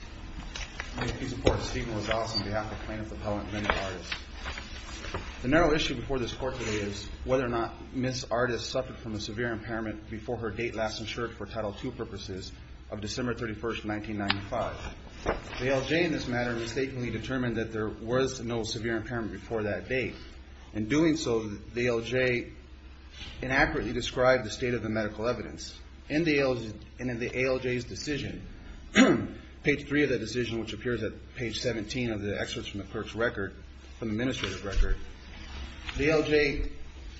The narrow issue before this court today is whether or not Ms. Artis suffered from a severe impairment before her date last insured for Title II purposes of December 31, 1995. The ALJ in this matter mistakenly determined that there was no severe impairment before that date. In doing so, the ALJ inaccurately described the state of the medical evidence. In the ALJ's decision, page 3 of that decision, which appears at page 17 of the excerpts from the clerk's record, from the administrator's record, the ALJ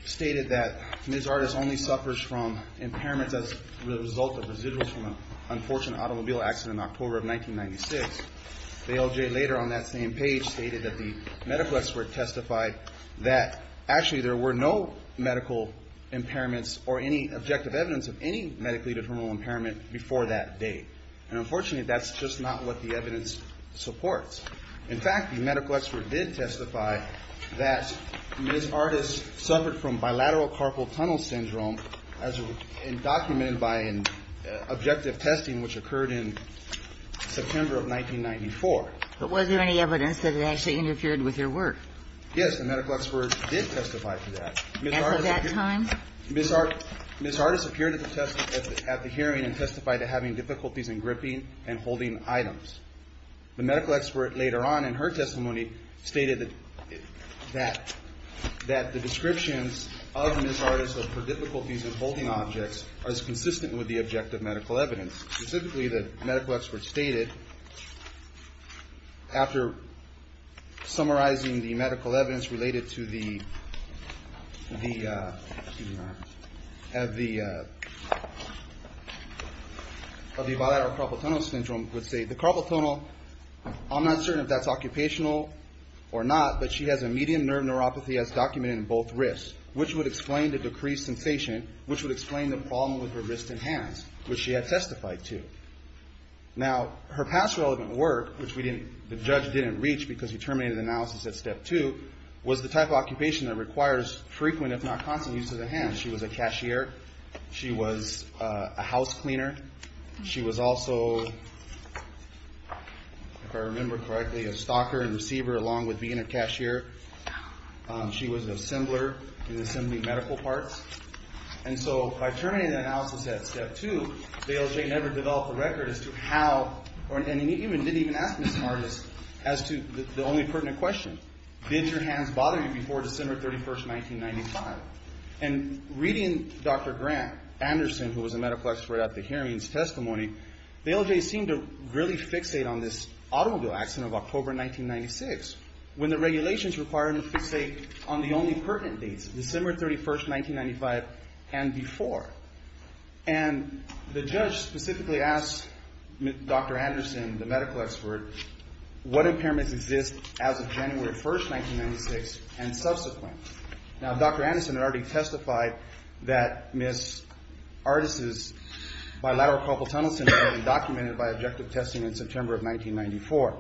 stated that Ms. Artis only suffers from impairments as a result of residuals from an unfortunate automobile accident in October of 1996. The ALJ later on that same page stated that the medical expert testified that actually there were no medical impairments or any objective evidence of any medically determinable impairment before that date. And unfortunately, that's just not what the evidence supports. In fact, the medical expert did testify that Ms. Artis suffered from bilateral carpal tunnel syndrome as documented by an objective testing which occurred in September of 1994. But was there any evidence that it actually interfered with your work? Yes. The medical expert did testify to that. At that time? Ms. Artis appeared at the hearing and testified to having difficulties in gripping and holding items. The medical expert later on in her testimony stated that the descriptions of Ms. Artis of her difficulties in holding objects are as consistent with the objective medical evidence. Specifically, the medical expert stated, after summarizing the medical evidence related to the bilateral carpal tunnel syndrome, would say, the carpal tunnel, I'm not certain if that's occupational or not, but she has a medium nerve neuropathy as documented in both wrists, which would explain the decreased sensation, which would explain the problem with her wrist and hands, which she had testified to. Now, her past relevant work, which the judge didn't reach because he terminated the analysis at step two, was the type of occupation that requires frequent if not constant use of the hands. She was a cashier. She was a house cleaner. She was also, if I remember correctly, a stalker and receiver, along with being a cashier. She was an assembler. She was assembling medical parts. And so, by terminating the analysis at step two, Dale J. never developed a record as to how, and he didn't even ask Ms. Artis, as to the only pertinent question, did your hands bother you before December 31st, 1995? And reading Dr. Grant, Anderson, who was a medical expert at the hearing's testimony, Dale J. seemed to really fixate on this automobile accident of October 1996, when the regulations required him to fixate on the only pertinent dates, December 31st, 1995 and before. And the judge specifically asked Dr. Anderson, the medical expert, what impairments exist as of January 1st, 1996 and subsequent. Now, Dr. Anderson had already testified that Ms. Artis' bilateral carpal tunnel syndrome had been documented by objective testing in September of 1994.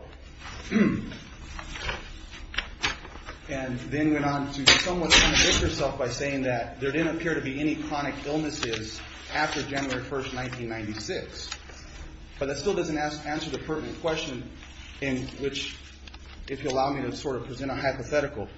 And then went on to somewhat convict herself by saying that there didn't appear to be any chronic illnesses after January 1st, 1996. But that still doesn't answer the pertinent question in which, if you'll allow me to sort of present a hypothetical.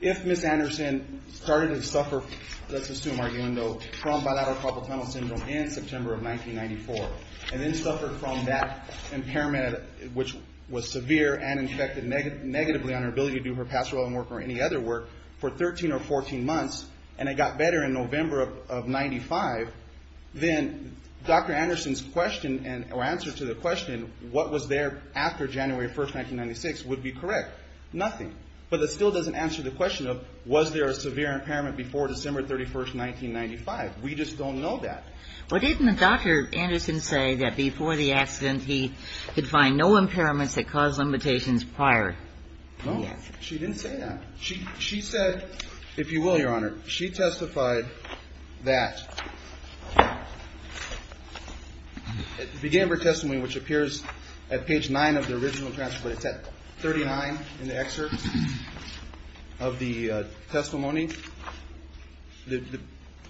If Ms. Anderson started to suffer, let's assume, from bilateral carpal tunnel syndrome in September of 1994, and then suffered from that impairment, which was severe, and infected negatively on her ability to do her pastoral home work or any other work, for 13 or 14 months, and it got better in November of 1995, then Dr. Anderson's question, or answer to the question, what was there after January 1st, 1996, would be correct. Nothing. But that still doesn't answer the question of, was there a severe impairment before December 31st, 1995. We just don't know that. Well, didn't Dr. Anderson say that before the accident, he could find no impairments that caused limitations prior? No. She didn't say that. She said, if you will, Your Honor, she testified that, at the beginning of her testimony, which appears at page 9 of the original transcript, it's at 39 in the excerpt of the testimony, the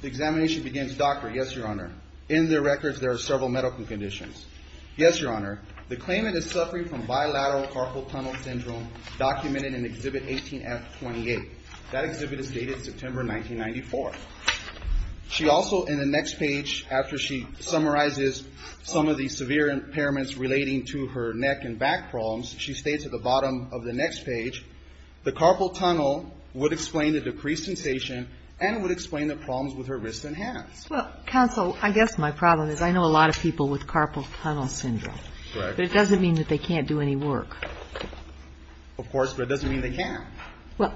examination begins, Doctor, yes, Your Honor, in the records there are several medical conditions. Yes, Your Honor, the claimant is suffering from bilateral carpal tunnel syndrome documented in Exhibit 18F28. That exhibit is dated September 1994. She also, in the next page, after she summarizes some of the severe impairments relating to her neck and back problems, she states at the bottom of the next page, the carpal tunnel would explain the decreased sensation and would explain the problems with her wrists and hands. Well, counsel, I guess my problem is I know a lot of people with carpal tunnel syndrome. Correct. But it doesn't mean that they can't do any work. Of course, but it doesn't mean they can't. But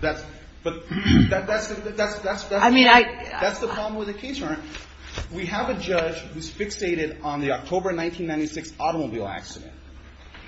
that's the problem with the case, Your Honor. We have a judge who's fixated on the October 1996 automobile accident.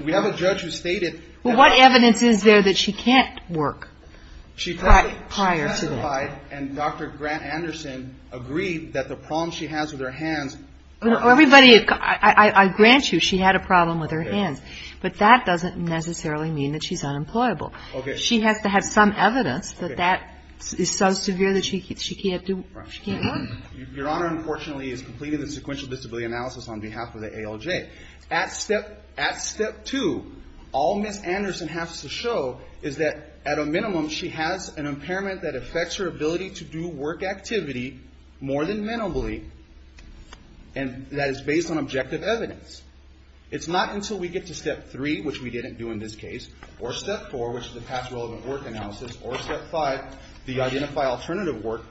We have a judge who stated that. Well, what evidence is there that she can't work prior to that? She testified and Dr. Grant Anderson agreed that the problem she has with her hands. Everybody, I grant you she had a problem with her hands, but that doesn't necessarily mean that she's unemployable. She has to have some evidence that that is so severe that she can't work. Your Honor, unfortunately, is completing the sequential disability analysis on behalf of the ALJ. At step 2, all Ms. Anderson has to show is that, at a minimum, she has an impairment that affects her ability to do work activity more than minimally and that is based on objective evidence. It's not until we get to step 3, which we didn't do in this case, or step 4, which is the past relevant work analysis, or step 5, the identify alternative work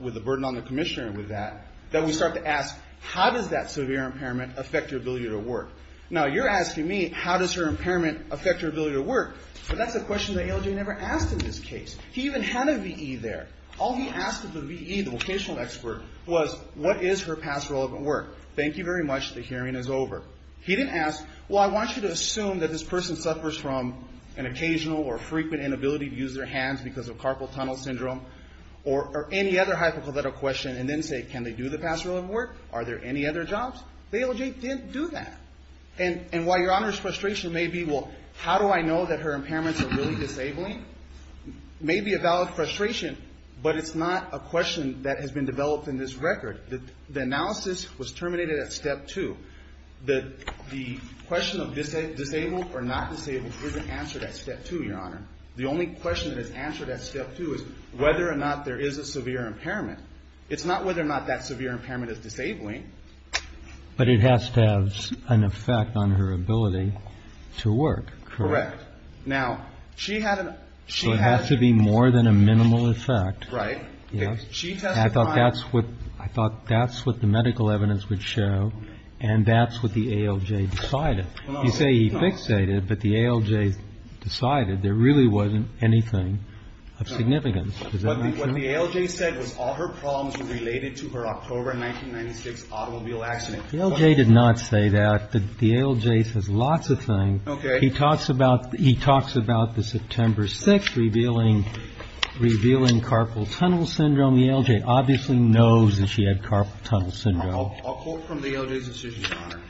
with the burden on the commissioner with that, that we start to ask how does that severe impairment affect your ability to work. Now, you're asking me how does her impairment affect her ability to work, but that's a question the ALJ never asked in this case. He even had a V.E. there. All he asked of the V.E., the vocational expert, was what is her past relevant work. Thank you very much. The hearing is over. He didn't ask, well, I want you to assume that this person suffers from an occasional or frequent inability to use their hands because of carpal tunnel syndrome or any other hypothetical question and then say, can they do the past relevant work? Are there any other jobs? The ALJ didn't do that. And while Your Honor's frustration may be, well, how do I know that her impairments are really disabling? It may be a valid frustration, but it's not a question that has been developed in this record. The analysis was terminated at step 2. The question of disabled or not disabled isn't answered at step 2, Your Honor. The only question that is answered at step 2 is whether or not there is a severe impairment. It's not whether or not that severe impairment is disabling. But it has to have an effect on her ability to work, correct? Correct. So it has to be more than a minimal effect. Right. I thought that's what the medical evidence would show and that's what the ALJ decided. You say he fixated, but the ALJ decided there really wasn't anything of significance. What the ALJ said was all her problems were related to her October 1996 automobile accident. The ALJ did not say that. The ALJ says lots of things. Okay. He talks about the September 6th revealing carpal tunnel syndrome. The ALJ obviously knows that she had carpal tunnel syndrome. I'll quote from the ALJ's decision, Your Honor.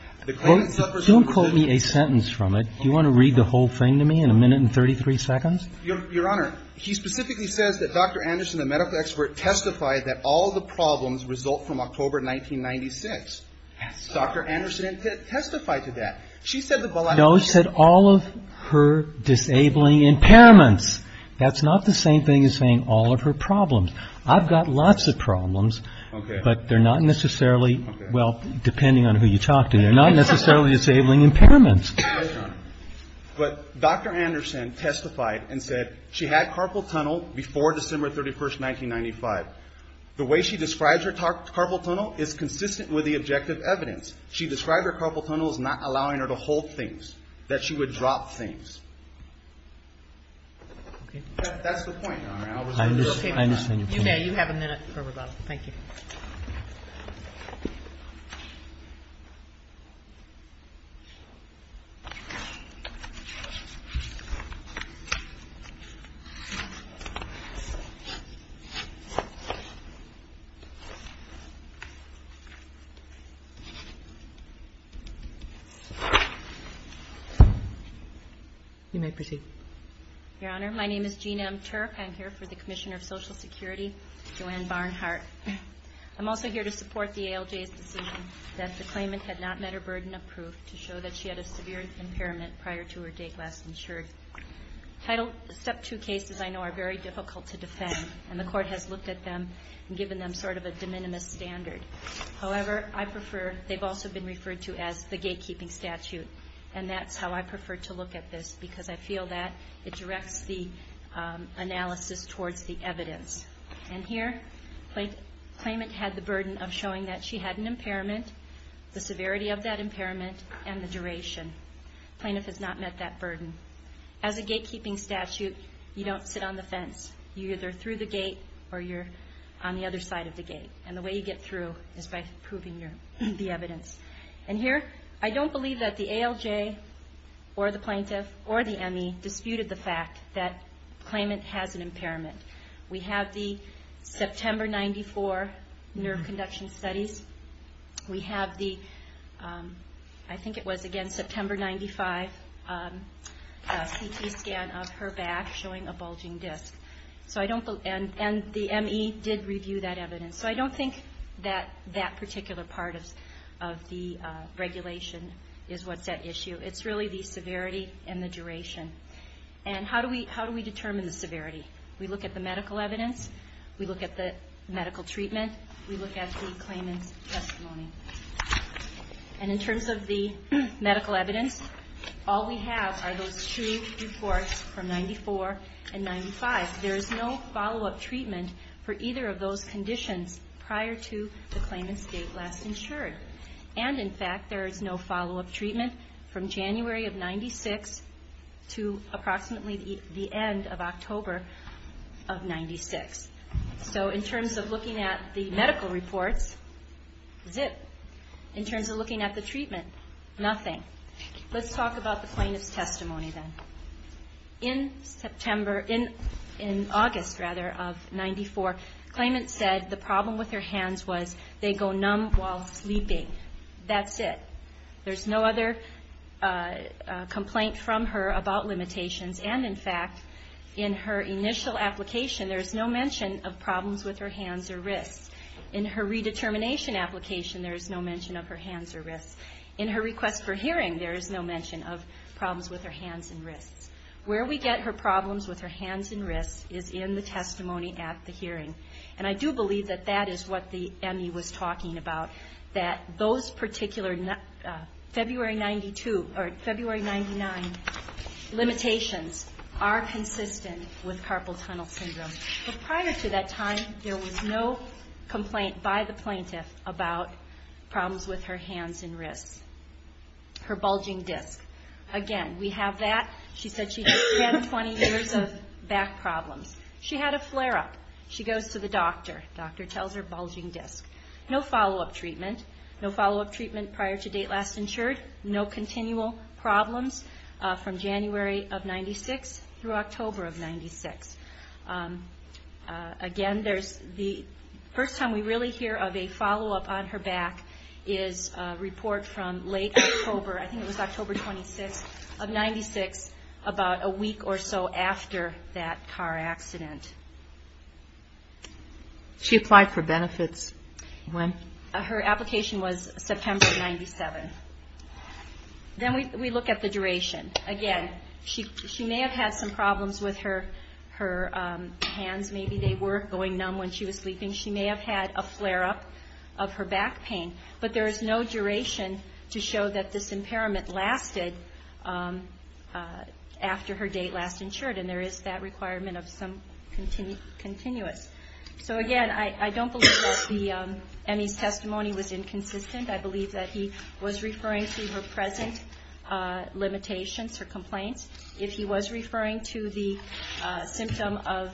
Don't quote me a sentence from it. Do you want to read the whole thing to me in a minute and 33 seconds? Your Honor, he specifically says that Dr. Anderson, the medical expert, testified that all the problems result from October 1996. Yes. Dr. Anderson testified to that. No, he said all of her disabling impairments. That's not the same thing as saying all of her problems. I've got lots of problems. Okay. But they're not necessarily, well, depending on who you talk to, they're not necessarily disabling impairments. Yes, Your Honor. But Dr. Anderson testified and said she had carpal tunnel before December 31st, 1995. The way she describes her carpal tunnel is consistent with the objective evidence. She described her carpal tunnel as not allowing her to hold things, that she would drop things. Okay. That's the point, Your Honor. I understand. You may. You have a minute for rebuttal. Thank you. You may proceed. Your Honor, my name is Jean M. Turk. I'm here for the Commissioner of Social Security, Joanne Barnhart. I'm also here to support the ALJ's decision that the claimant had not met her burden of proof to show that she had a severe impairment prior to her date last insured. Title Step 2 cases, I know, are very difficult to defend, and the Court has looked at them and given them sort of a de minimis standard. However, I prefer, they've also been referred to as the gatekeeping statute, and that's how I prefer to look at this because I feel that it directs the analysis towards the evidence. And here, the claimant had the burden of showing that she had an impairment, the severity of that impairment, and the duration. The plaintiff has not met that burden. As a gatekeeping statute, you don't sit on the fence. You're either through the gate or you're on the other side of the gate. And the way you get through is by proving the evidence. And here, I don't believe that the ALJ or the plaintiff or the ME disputed the fact that the claimant has an impairment. We have the September 94 nerve conduction studies. We have the, I think it was, again, September 95 CT scan of her back showing a bulging disc. And the ME did review that evidence. So I don't think that that particular part of the regulation is what's at issue. It's really the severity and the duration. And how do we determine the severity? We look at the medical evidence. We look at the medical treatment. We look at the claimant's testimony. And in terms of the medical evidence, all we have are those two reports from 94 and 95. There is no follow-up treatment for either of those conditions prior to the claimant's date last insured. And, in fact, there is no follow-up treatment from January of 96 to approximately the end of October of 96. So in terms of looking at the medical reports, zip. In terms of looking at the treatment, nothing. Let's talk about the plaintiff's testimony then. In August of 94, the claimant said the problem with her hands was they go numb while sleeping. That's it. There's no other complaint from her about limitations. And, in fact, in her initial application, there is no mention of problems with her hands or wrists. In her redetermination application, there is no mention of her hands or wrists. In her request for hearing, there is no mention of problems with her hands and wrists. Where we get her problems with her hands and wrists is in the testimony at the hearing. And I do believe that that is what the ME was talking about, that those particular February 92 or February 99 limitations are consistent with carpal tunnel syndrome. But prior to that time, there was no complaint by the plaintiff about problems with her hands and wrists, her bulging disc. Again, we have that. She said she had 20 years of back problems. She had a flare-up. She goes to the doctor. The doctor tells her bulging disc. No follow-up treatment. No follow-up treatment prior to date last insured. No continual problems from January of 96 through October of 96. Again, the first time we really hear of a follow-up on her back is a report from late October. I think it was October 26 of 96, about a week or so after that car accident. She applied for benefits when? Her application was September of 97. Then we look at the duration. Again, she may have had some problems with her hands. Maybe they were going numb when she was sleeping. She may have had a flare-up of her back pain. But there is no duration to show that this impairment lasted after her date last insured. There is that requirement of some continuous. Again, I don't believe that Emmy's testimony was inconsistent. I believe that he was referring to her present limitations or complaints. If he was referring to the symptom of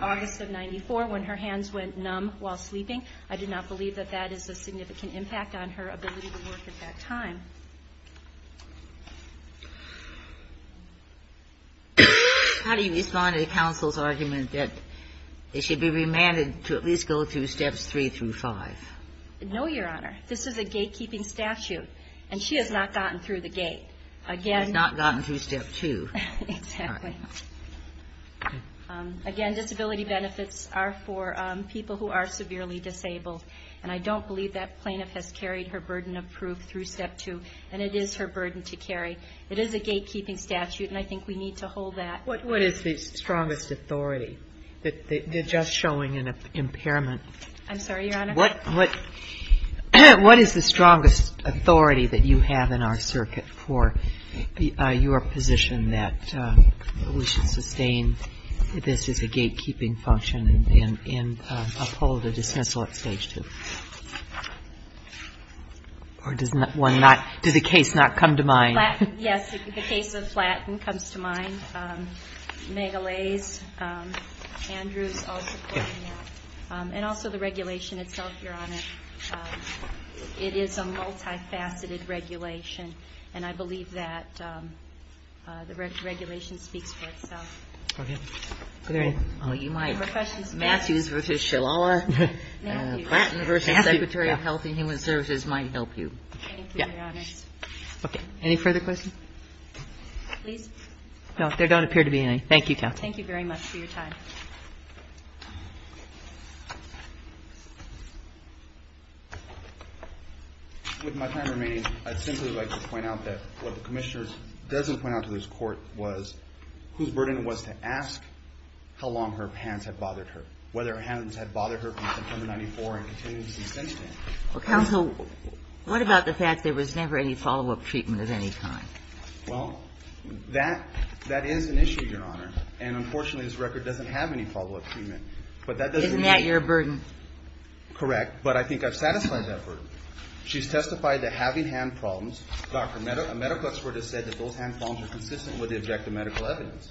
August of 94, when her hands went numb while sleeping, I do not believe that that is a significant impact on her ability to work at that time. How do you respond to the counsel's argument that it should be remanded to at least go through Steps 3 through 5? No, Your Honor. This is a gatekeeping statute, and she has not gotten through the gate. She has not gotten through Step 2. Exactly. Again, disability benefits are for people who are severely disabled, and I don't believe that plaintiff has carried her burden of proof through Step 2. And it is her burden to carry. It is a gatekeeping statute, and I think we need to hold that. What is the strongest authority? They're just showing an impairment. I'm sorry, Your Honor? What is the strongest authority that you have in our circuit for your position that we should sustain this as a gatekeeping function and uphold a dismissal at Stage 2? Or does the case not come to mind? Yes, the case of Flatton comes to mind. Megalaze, Andrews, all supporting that. And also the regulation itself, Your Honor. It is a multifaceted regulation, and I believe that the regulation speaks for itself. Okay. Are there any more questions? Matthews v. Shalala. Flatton v. Secretary of Health and Human Services might help you. Thank you, Your Honor. Okay. Any further questions? Please. No, there don't appear to be any. Thank you, Counsel. Thank you very much for your time. With my time remaining, I'd simply like to point out that what the Commissioner doesn't point out to this Court was whose burden it was to ask how long her hands had bothered her, whether her hands had bothered her from September 94 and continued to be sensitive. Counsel, what about the fact there was never any follow-up treatment of any kind? Well, that is an issue, Your Honor. And unfortunately, this record doesn't have any follow-up treatment. Isn't that your burden? Correct. But I think I've satisfied that burden. She's testified to having hand problems. A medical expert has said that those hand problems are consistent with the objective medical evidence.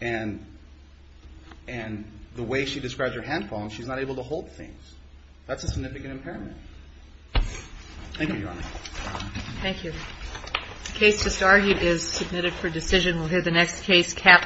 And the way she describes her hand problems, she's not able to hold things. That's a significant impairment. Thank you, Your Honor. Thank you. The case just argued is submitted for decision. We'll hear the next case capitalized.